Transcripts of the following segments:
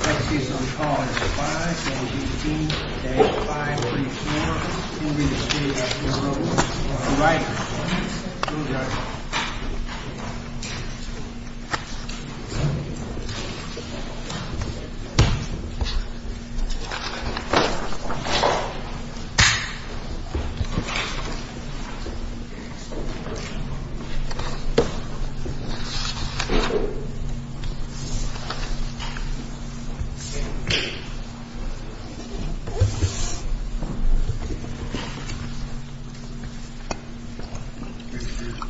Lexus on call is 517-534-2300 for a Rider.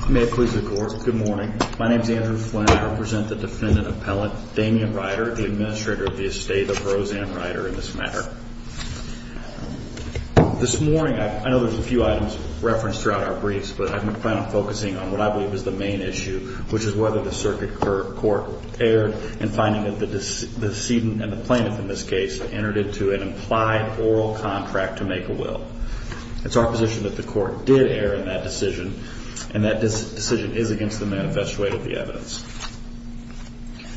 May it please the court, good morning, my name is Andrew Flynn, I represent the defendant appellate Damian Rider, the administrator of the Estate of Roseanne Rider in this matter. This morning, I know there's a few items referenced throughout our briefs, but I plan on focusing on what I believe is the main issue, which is whether the circuit court erred in finding that the decedent and the plaintiff in this case entered into an implied oral contract to make a will. It's our position that the court did err in that decision, and that decision is against the manifest way of the evidence.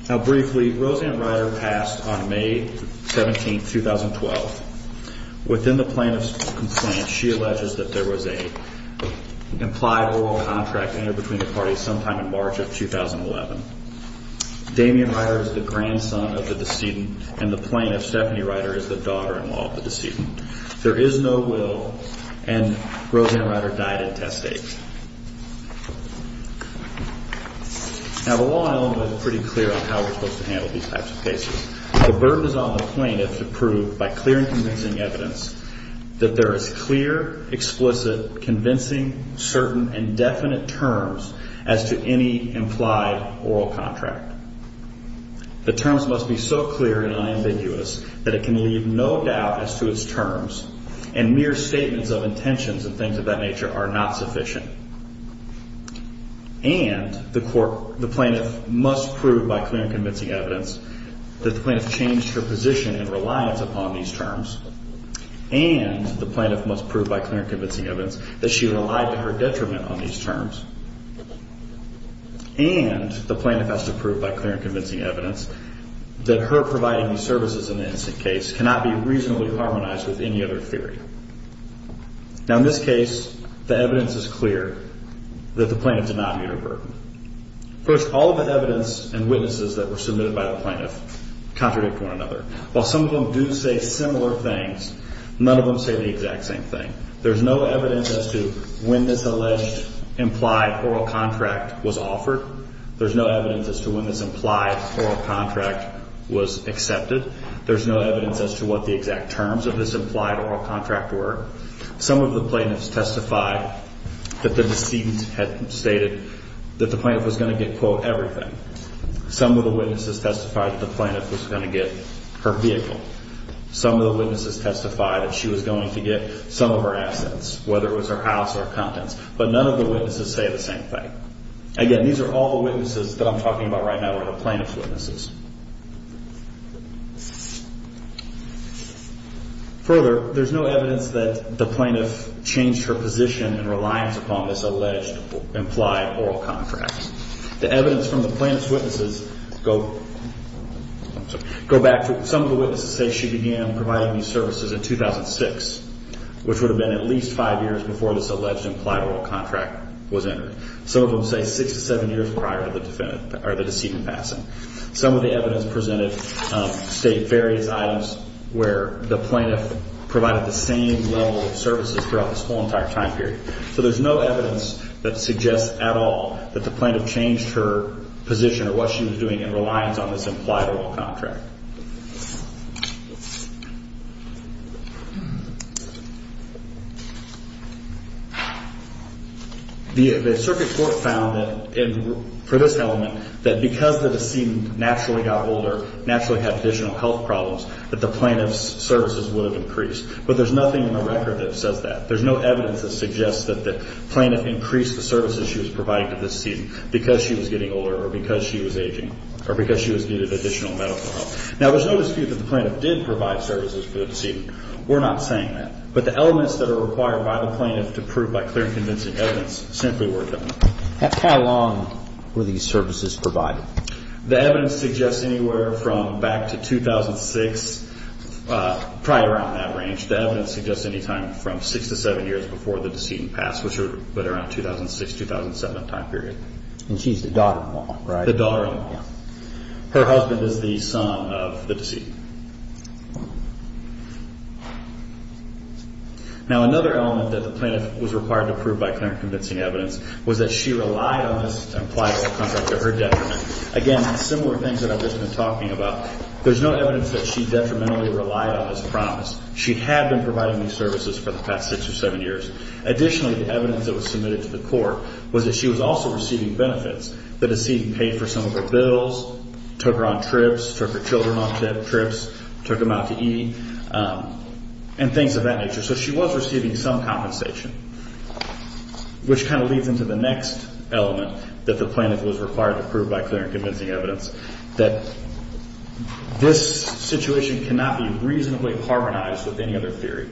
Now briefly, Roseanne Rider passed on May 17, 2012. Within the plaintiff's complaint, she alleges that there was an implied oral contract entered between the parties sometime in March of 2011. Damian Rider is the grandson of the decedent, and the plaintiff, Stephanie Rider, is the daughter-in-law of the decedent. There is no will, and Roseanne Rider died at test date. Now the law element is pretty clear on how we're supposed to handle these types of cases. The burden is on the plaintiff to prove, by clear and convincing evidence, that there is clear, explicit, convincing, certain, and definite terms as to any implied oral contract. The terms must be so clear and unambiguous that it can leave no doubt as to its terms, and mere statements of intentions and things of that nature are not sufficient. And the plaintiff must prove, by clear and convincing evidence, that the plaintiff changed her position and reliance upon these terms. And the plaintiff must prove, by clear and convincing evidence, that she relied to her detriment on these terms. And the plaintiff has to prove, by clear and convincing evidence, that her providing these services in the incident case cannot be reasonably harmonized with any other theory. Now in this case, the evidence is clear that the plaintiff did not meet her burden. First, all of the evidence and witnesses that were submitted by the plaintiff contradict one another. While some of them do say similar things, none of them say the exact same thing. There's no evidence as to when this alleged implied oral contract was offered. There's no evidence as to when this implied oral contract was accepted. There's no evidence as to what the exact terms of this implied oral contract were. Some of the plaintiffs testified that the decedent had stated that the plaintiff was going to get, quote, everything. Some of the witnesses testified that the plaintiff was going to get her vehicle. Some of the witnesses testified that she was going to get some of her assets, whether it was her house or her contents. But none of the witnesses say the same thing. Again, these are all the witnesses that I'm talking about right now are the plaintiff's witnesses. Further, there's no evidence that the plaintiff changed her position in reliance upon this alleged implied oral contract. The evidence from the plaintiff's witnesses go back to some of the witnesses say she began providing these services in 2006, which would have been at least five years before this alleged implied oral contract was entered. Some of them say six to seven years prior to the decedent passing. Some of the evidence presented state various items where the plaintiff provided the same level of services throughout this whole entire time period. So there's no evidence that suggests at all that the plaintiff changed her position or what she was doing in reliance on this implied oral contract. The circuit court found that for this element, that because the decedent naturally got older, naturally had additional health problems, that the plaintiff's services would have increased. But there's nothing in the record that says that. There's no evidence that suggests that the plaintiff increased the services she was providing to this decedent because she was getting older or because she was aging or because she was needed additional medical help. Now, there's no dispute that the plaintiff did provide services for the decedent. We're not saying that. But the elements that are required by the plaintiff to prove by clear and convincing evidence simply weren't there. How long were these services provided? The evidence suggests anywhere from back to 2006, probably around that range. The evidence suggests any time from six to seven years before the decedent passed, which would have been around 2006, 2007 time period. The daughter-in-law. Her husband is the son of the decedent. Now, another element that the plaintiff was required to prove by clear and convincing evidence was that she relied on this implied contract to her detriment. Again, similar things that I've just been talking about. There's no evidence that she detrimentally relied on this promise. She had been providing these services for the past six or seven years. Additionally, the evidence that was submitted to the court was that she was also receiving benefits. The decedent paid for some of her bills, took her on trips, took her children on trips, took them out to eat, and things of that nature. So she was receiving some compensation, which kind of leads into the next element that the plaintiff was required to prove by clear and convincing evidence, that this situation cannot be reasonably harmonized with any other theory.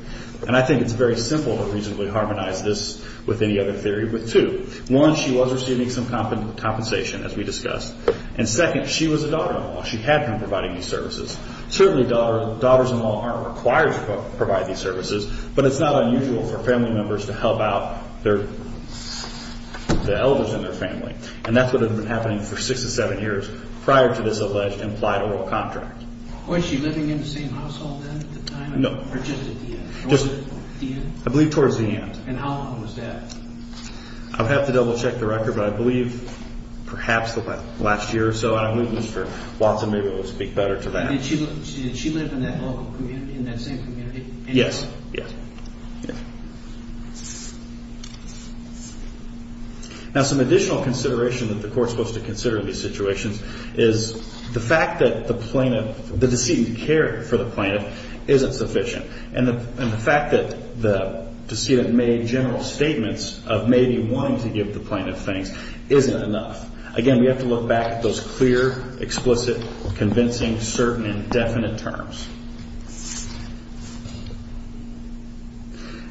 And I think it's very simple to reasonably harmonize this with any other theory with two. One, she was receiving some compensation, as we discussed. And second, she was a daughter-in-law. She had been providing these services. Certainly daughters-in-law aren't required to provide these services, but it's not unusual for family members to help out the elders in their family. And that's what had been happening for six or seven years prior to this alleged implied oral contract. Was she living in the same household then at the time? No. Or just at the end? I believe towards the end. And how long was that? I'll have to double-check the record, but I believe perhaps the last year or so. I don't know. It was for Watson. Maybe we'll speak better to that. Did she live in that local community, in that same community? Yes. Yes. Now, some additional consideration that the court's supposed to consider in these situations is the fact that the plaintiff, the decedent cared for the plaintiff isn't sufficient. And the fact that the decedent made general statements of maybe wanting to give the plaintiff things isn't enough. Again, we have to look back at those clear, explicit, convincing, certain, and definite terms.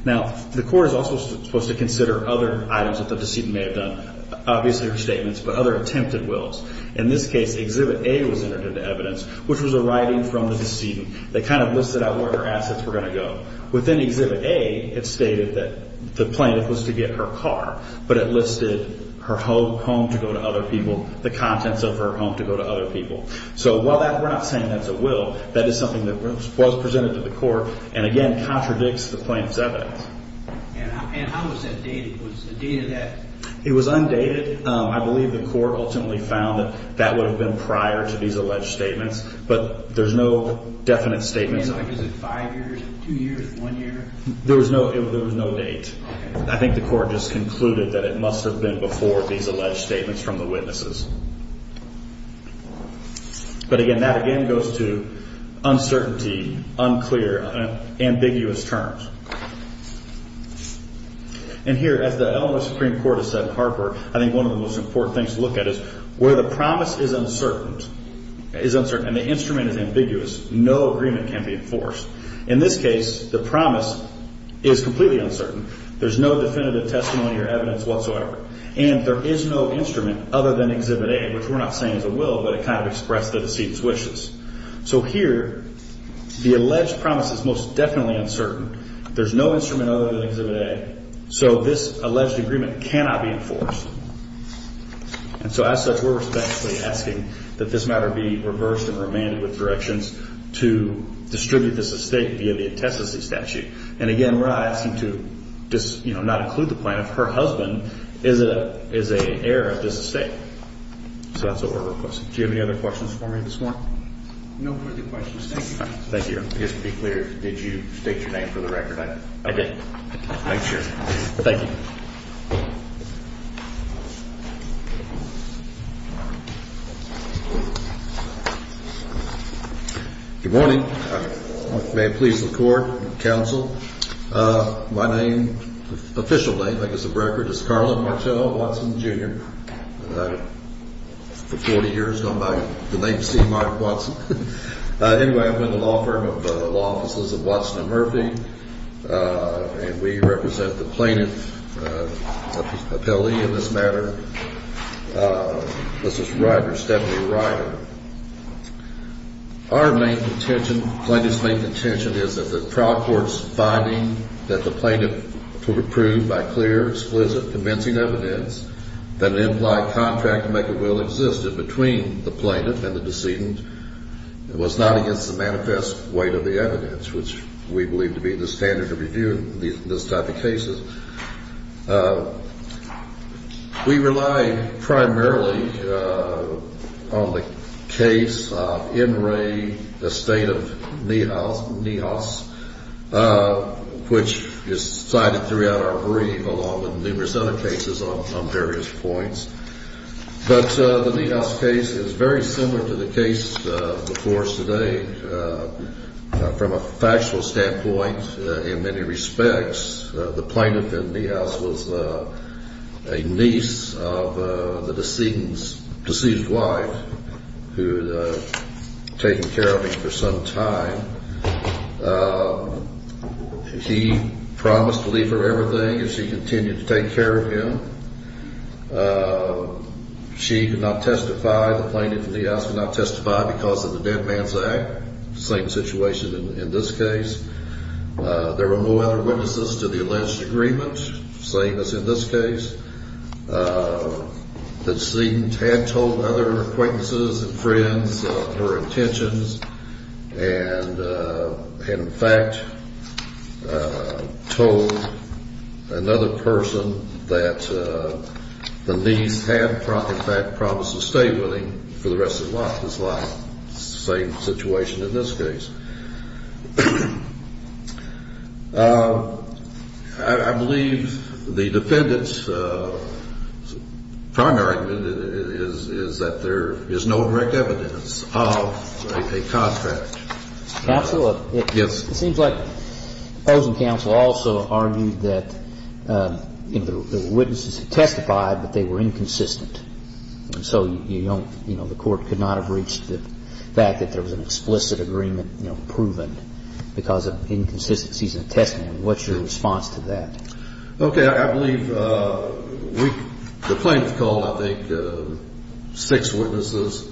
Now, the court is also supposed to consider other items that the decedent may have done, obviously her statements, but other attempted wills. In this case, Exhibit A was entered into evidence, which was a writing from the decedent. They kind of listed out where her assets were going to go. Within Exhibit A, it stated that the plaintiff was to get her car, but it listed her home to go to other people, the contents of her home to go to other people. So while we're not saying that's a will, that is something that was presented to the court and, again, contradicts the plaintiff's evidence. It was undated. I believe the court ultimately found that that would have been prior to these alleged statements, but there's no definite statement. Is it five years, two years, one year? There was no date. I think the court just concluded that it must have been before these alleged statements from the witnesses. But, again, that again goes to uncertainty, unclear, ambiguous terms. And here, as the Illinois Supreme Court has said in Harper, I think one of the most important things to look at is where the promise is uncertain, and the instrument is ambiguous. No agreement can be enforced. In this case, the promise is completely uncertain. There's no definitive testimony or evidence whatsoever, and there is no instrument other than Exhibit A, which we're not saying is a will, but it kind of expressed the deceit's wishes. So here, the alleged promise is most definitely uncertain. There's no instrument other than Exhibit A, so this alleged agreement cannot be enforced. And so, as such, we're respectfully asking that this matter be reversed and remanded with directions to distribute this estate via the intestacy statute. And, again, we're not asking to not include the plaintiff. Her husband is an heir of this estate. So that's what we're requesting. Do you have any other questions for me this morning? No further questions. Thank you. Thank you. Just to be clear, did you state your name for the record? I did. Thanks, Sheriff. Thank you. Good morning. May it please the Court and the Counsel. My name, official name, I guess, for the record is Carlin Martel Watson, Jr., for 40 years, known by the name C. Martin Watson. Anyway, I'm with the law firm of the Law Offices of Watson and Murphy, and we represent the plaintiff appellee in this matter, Mrs. Ryder, Stephanie Ryder. Our main contention, plaintiff's main contention, is that the trial court's finding that the plaintiff was approved by clear, explicit, convincing evidence that an implied contract maker will existed between the plaintiff and the decedent was not against the manifest weight of the evidence, which we believe to be the standard of review in this type of cases. We rely primarily on the case, In Re, the State of Neos, which is cited throughout our brief along with numerous other cases on various points. But the Neos case is very similar to the case before us today. From a factual standpoint, in many respects, the plaintiff in Neos was a niece of the decedent's wife, who had taken care of him for some time. He promised to leave her everything if she continued to take care of him. She did not testify. The plaintiff in Neos did not testify because of the Dead Man's Act, same situation in this case. There were no other witnesses to the alleged agreement, same as in this case. The decedent had told other acquaintances and friends of her intentions, and, in fact, told another person that the niece had, in fact, promised to stay with him for the rest of his life. Same situation in this case. I believe the defendant's primary argument is that there is no direct evidence of a contract. Counsel, it seems like the opposing counsel also argued that there were witnesses who testified, but they were inconsistent. And so the court could not have reached the fact that there was an explicit agreement proven because of inconsistencies in the testimony. What's your response to that? Okay, I believe the plaintiff called, I think, six witnesses,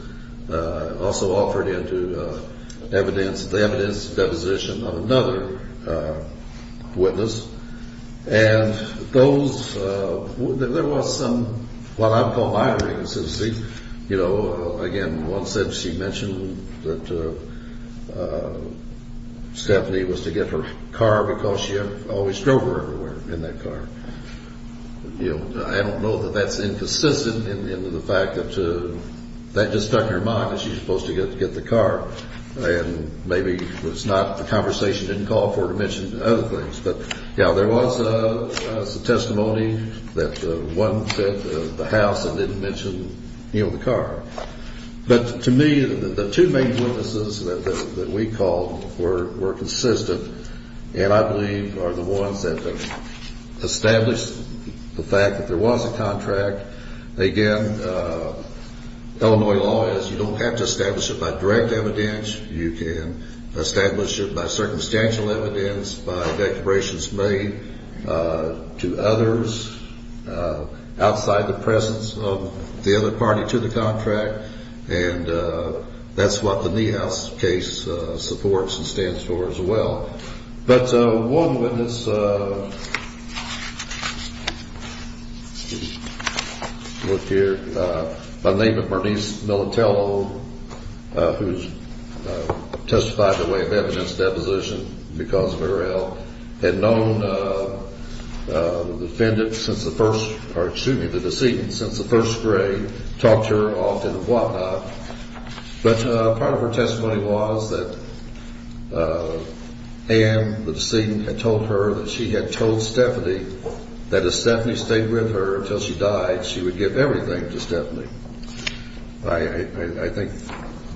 also offered into the evidence deposition of another witness, and there was some what I would call minor inconsistencies. You know, again, one said she mentioned that Stephanie was to get her car because she always drove her everywhere in that car. You know, I don't know that that's inconsistent in the fact that that just stuck in her mind, that she was supposed to get the car, and maybe the conversation didn't call for her to mention other things. But, yeah, there was testimony that one said the house and didn't mention, you know, the car. But to me, the two main witnesses that we called were consistent, and I believe are the ones that have established the fact that there was a contract. Again, Illinois law is you don't have to establish it by direct evidence. You can establish it by circumstantial evidence, by declarations made to others, outside the presence of the other party to the contract, and that's what the Niehaus case supports and stands for as well. But one witness, let me look here, by the name of Bernice Militello, who testified in the way of evidence deposition because of her health, had known the defendant since the first, or excuse me, the decedent since the first grade, talked to her often and whatnot. But part of her testimony was that Ann, the decedent, had told her that she had told Stephanie that if Stephanie stayed with her until she died, she would give everything to Stephanie. I think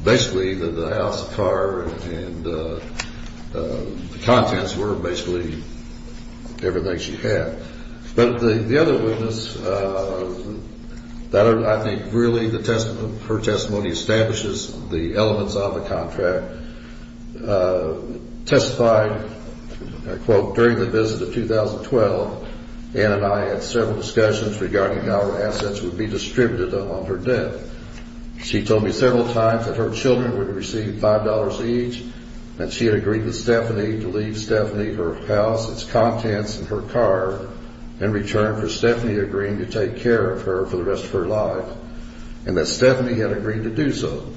basically that the house, the car, and the contents were basically everything she had. But the other witness, I think really her testimony establishes the elements of the contract. Testified, quote, during the visit of 2012, Ann and I had several discussions regarding how our assets would be distributed on her death. She told me several times that her children would receive $5 each, and she had agreed with Stephanie to leave Stephanie her house, its contents, and her car in return for Stephanie agreeing to take care of her for the rest of her life, and that Stephanie had agreed to do so.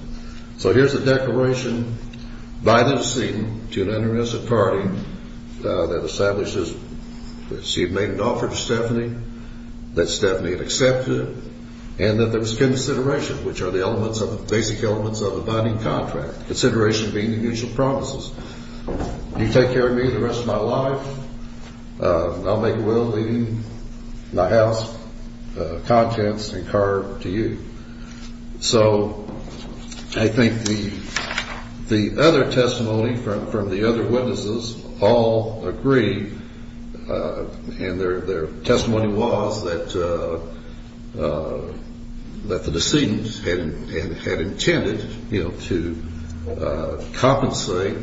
So here's a declaration by the decedent to an innocent party that establishes that she had made an offer to Stephanie, that Stephanie had accepted it, and that there was consideration, which are the basic elements of a binding contract, consideration being the mutual promises. You take care of me the rest of my life, and I'll make a will leaving my house, contents, and car to you. So I think the other testimony from the other witnesses all agree, and their testimony was that the decedent had intended to compensate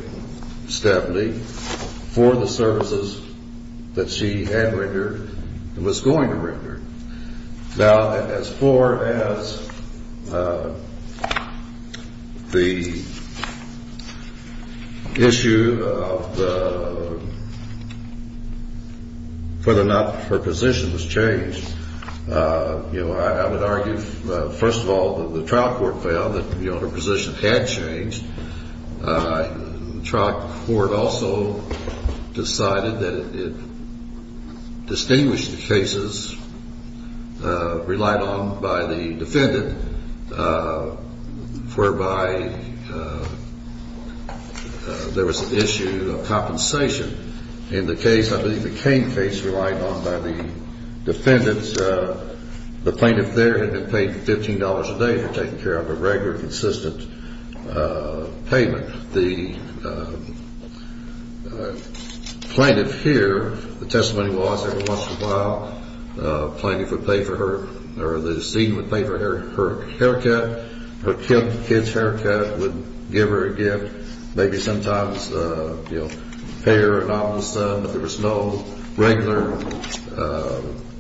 Stephanie for the services that she had rendered and was going to render. Now, as far as the issue of whether or not her position was changed, I would argue, first of all, that the trial court found that her position had changed. The trial court also decided that it distinguished the cases relied on by the defendant, whereby there was an issue of compensation in the case, I believe the Cain case, relied on by the defendant. The plaintiff there had been paid $15 a day for taking care of a regular, consistent payment. The plaintiff here, the testimony was every once in a while, the decedent would pay for her haircut, her kid's haircut, would give her a gift, maybe sometimes pay her a nominal sum, but there was no regular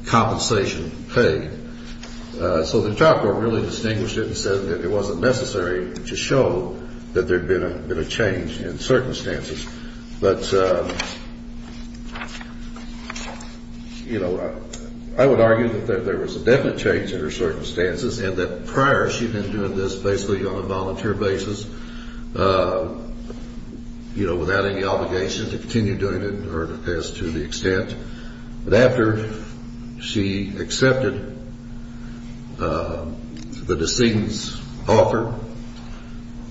compensation paid. So the trial court really distinguished it and said that it wasn't necessary to show that there had been a change in circumstances. But, you know, I would argue that there was a definite change in her circumstances and that prior she had been doing this basically on a volunteer basis, you know, without any obligation to continue doing it as to the extent. But after she accepted the decedent's offer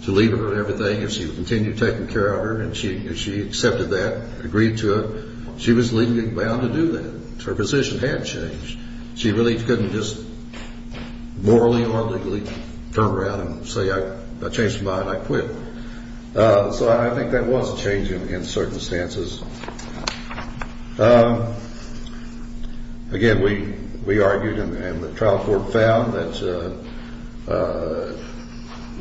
to leave her and everything, and she continued taking care of her and she accepted that, agreed to it, she was legally bound to do that. Her position had changed. She really couldn't just morally or legally turn around and say, I changed my mind, I quit. So I think that was a change in circumstances. Again, we argued and the trial court found that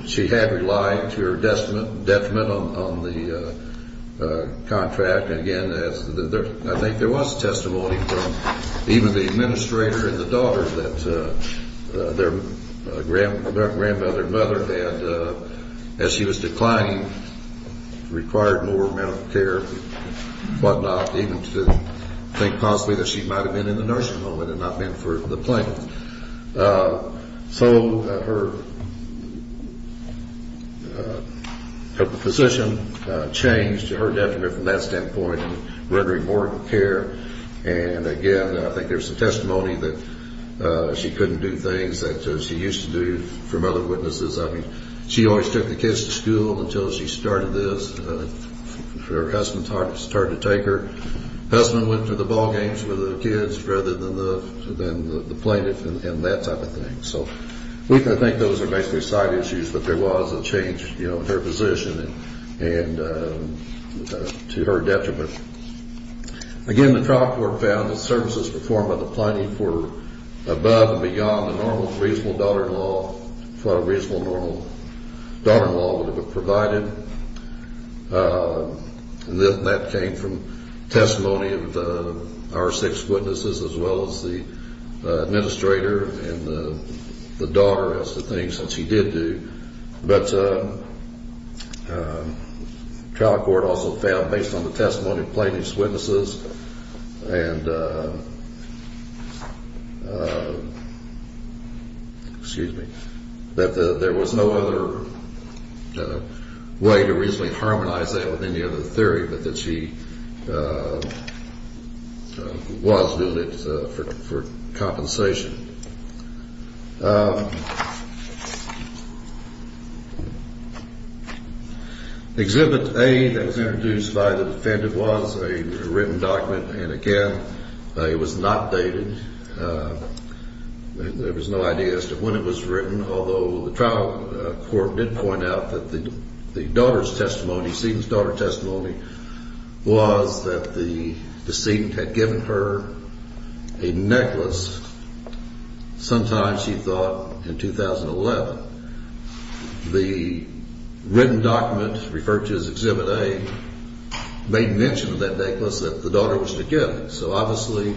she had relied to her detriment on the contract. I think there was testimony from even the administrator and the daughter that their grandmother and mother had, as she was declining, required more mental care and whatnot, even to think possibly that she might have been in the nursing home and had not been for the plaintiff. So her position changed to her detriment from that standpoint and rendering more care. And, again, I think there's some testimony that she couldn't do things that she used to do from other witnesses. I mean, she always took the kids to school until she started this. Her husband started to take her. Her husband went to the ball games with the kids rather than the plaintiff and that type of thing. So I think those are basically side issues, but there was a change in her position to her detriment. Again, the trial court found that services performed by the plaintiff were above and beyond the normal reasonable daughter-in-law, reasonable normal daughter-in-law would have been provided. And that came from testimony of our six witnesses as well as the administrator and the daughter as to things that she did do. But the trial court also found, based on the testimony of plaintiff's witnesses, and, excuse me, that there was no other way to reasonably harmonize that with any other theory but that she was doing it for compensation. Exhibit A that was introduced by the defendant was a written document. And, again, it was not dated. There was no idea as to when it was written, although the trial court did point out that the daughter's testimony, the decedent's daughter's testimony, was that the decedent had given her a necklace sometime, she thought, in 2011. The written document referred to as Exhibit A made mention of that necklace that the daughter was to give. So, obviously,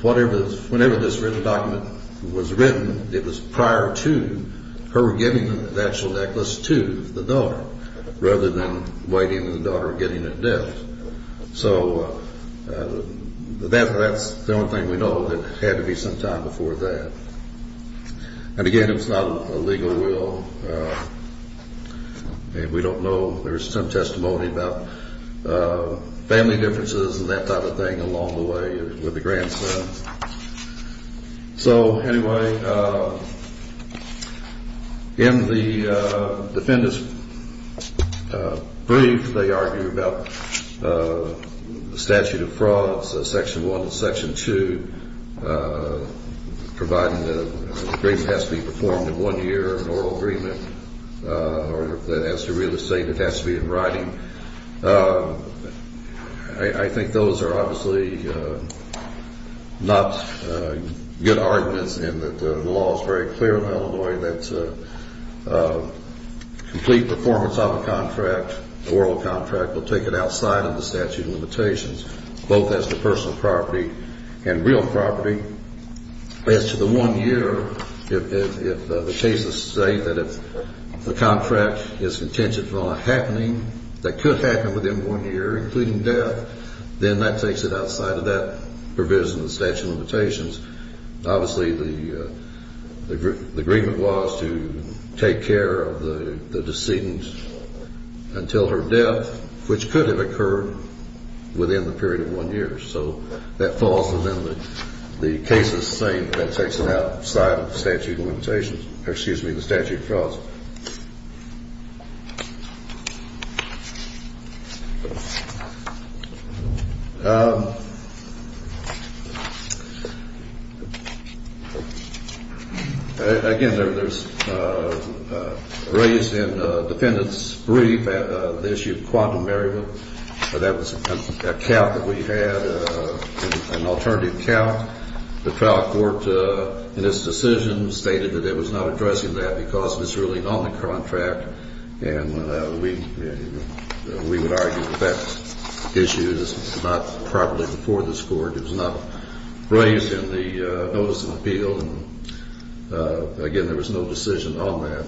whenever this written document was written, it was prior to her giving the actual necklace to the daughter, rather than waiting for the daughter to get it at death. So that's the only thing we know that it had to be some time before that. And, again, it was not a legal will. We don't know. There was some testimony about family differences and that sort of thing along the way with the grandsons. So, anyway, in the defendant's brief, they argue about the statute of frauds, Section 1 and Section 2, providing that an agreement has to be performed in one year, an oral agreement, or that it has to be real estate, it has to be in writing. I think those are obviously not good arguments in that the law is very clear in Illinois that complete performance of a contract, an oral contract, will take it outside of the statute of limitations, both as to personal property and real property. As to the one year, if the cases say that if the contract is contingent upon a happening, that it has to be in writing, that it could happen within one year, including death, then that takes it outside of that provision of the statute of limitations. Obviously, the agreement was to take care of the decedent until her death, which could have occurred within the period of one year. So that falls within the cases saying that takes it outside of the statute of limitations, or excuse me, the statute of frauds. Again, there's raised in the defendant's brief the issue of quantum variable. That was a count that we had, an alternative count. The trial court in its decision stated that it was not addressing that because it was really an only contract, and we would argue that that issue is not properly before this court. It was not raised in the notice of appeal. Again, there was no decision on that.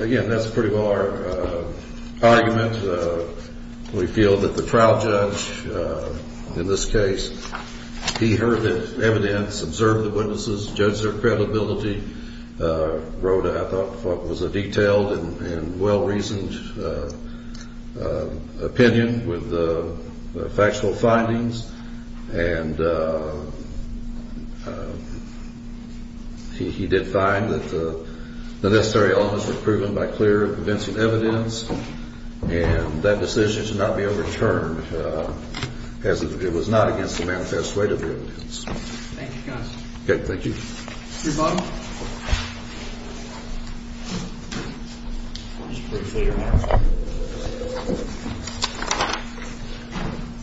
Again, that's pretty well our argument. We feel that the trial judge in this case, he heard the evidence, observed the witnesses, judged their credibility, wrote what I thought was a detailed and well-reasoned opinion with factual findings, and he did find that the necessary elements were proven by clear and convincing evidence, and that decision should not be overturned as it was not against the manifest weight of the evidence. Thank you, counsel.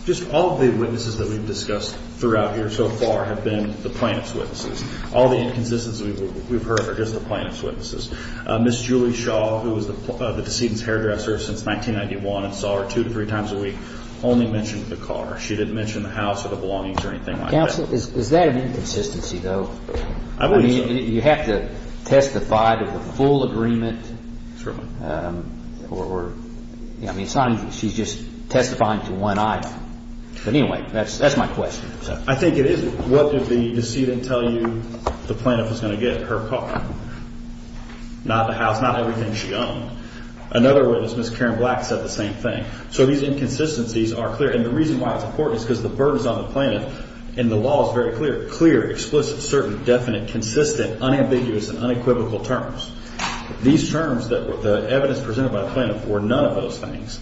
Just all of the witnesses that we've discussed throughout here so far have been the plaintiff's witnesses. All the inconsistencies we've heard are just the plaintiff's witnesses. Ms. Julie Shaw, who was the decedent's hairdresser since 1991 and saw her two to three times a week, only mentioned the car. She didn't mention the house or the belongings or anything like that. Counsel, is that an inconsistency, though? You have to testify to the full agreement. She's just testifying to one item, but anyway, that's my question. I think it is. What did the decedent tell you the plaintiff was going to get, her car? Not the house, not everything she owned. Another witness, Ms. Karen Black, said the same thing. So these inconsistencies are clear, and the reason why it's important is because the burden is on the plaintiff, and the law is very clear. Clear, explicit, certain, definite, consistent, unambiguous, and unequivocal terms. These terms, the evidence presented by the plaintiff, were none of those things.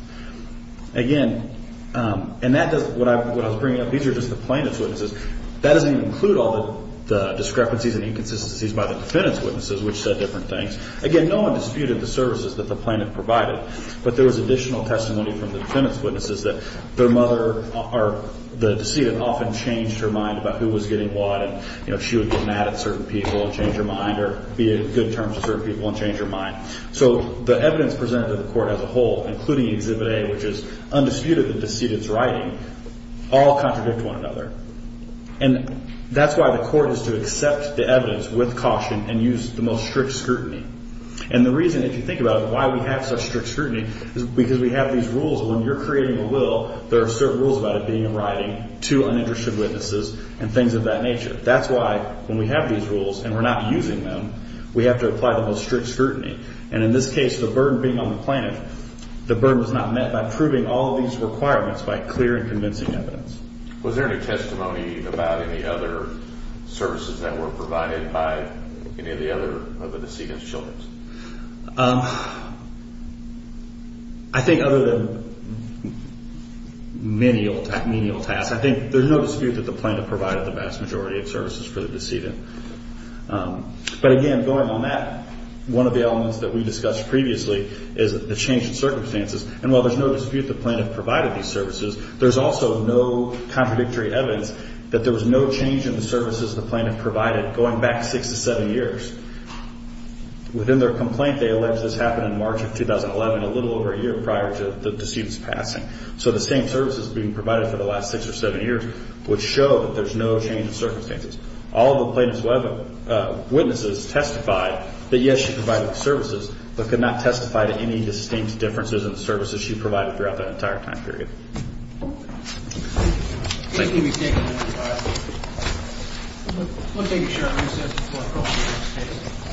Again, and that does, what I was bringing up, these are just the plaintiff's witnesses. That doesn't even include all the discrepancies and inconsistencies by the defendant's witnesses, which said different things. Again, no one disputed the services that the plaintiff provided, but there was additional testimony from the defendant's witnesses that their mother, or the decedent, often changed her mind about who was getting what, and she would get mad at certain people and change her mind, or be a good term to certain people and change her mind. So the evidence presented to the court as a whole, including Exhibit A, which is undisputed that the decedent's writing, all contradict one another. And that's why the court is to accept the evidence with caution and use the most strict scrutiny. And the reason, if you think about it, why we have such strict scrutiny is because we have these rules. When you're creating a will, there are certain rules about it being in writing to uninterested witnesses and things of that nature. That's why, when we have these rules and we're not using them, we have to apply the most strict scrutiny. And in this case, the burden being on the plaintiff, the burden was not met by proving all of these requirements by clear and convincing evidence. Was there any testimony about any other services that were provided by any of the other of the decedent's children? I think other than menial tasks, I think there's no dispute that the plaintiff provided the vast majority of services for the decedent. But again, going on that, one of the elements that we discussed previously is the change in circumstances. And while there's no dispute the plaintiff provided these services, there's also no contradictory evidence that there was no change in the services the plaintiff provided going back six to seven years. Within their complaint, they allege this happened in March of 2011, a little over a year prior to the decedent's passing. So the same services being provided for the last six or seven years would show that there's no change in circumstances. All of the plaintiff's witnesses testified that, yes, she provided the services, but could not testify to any distinct differences in the services she provided throughout that entire time period. Thank you. We'll take a short recess before calling it a day.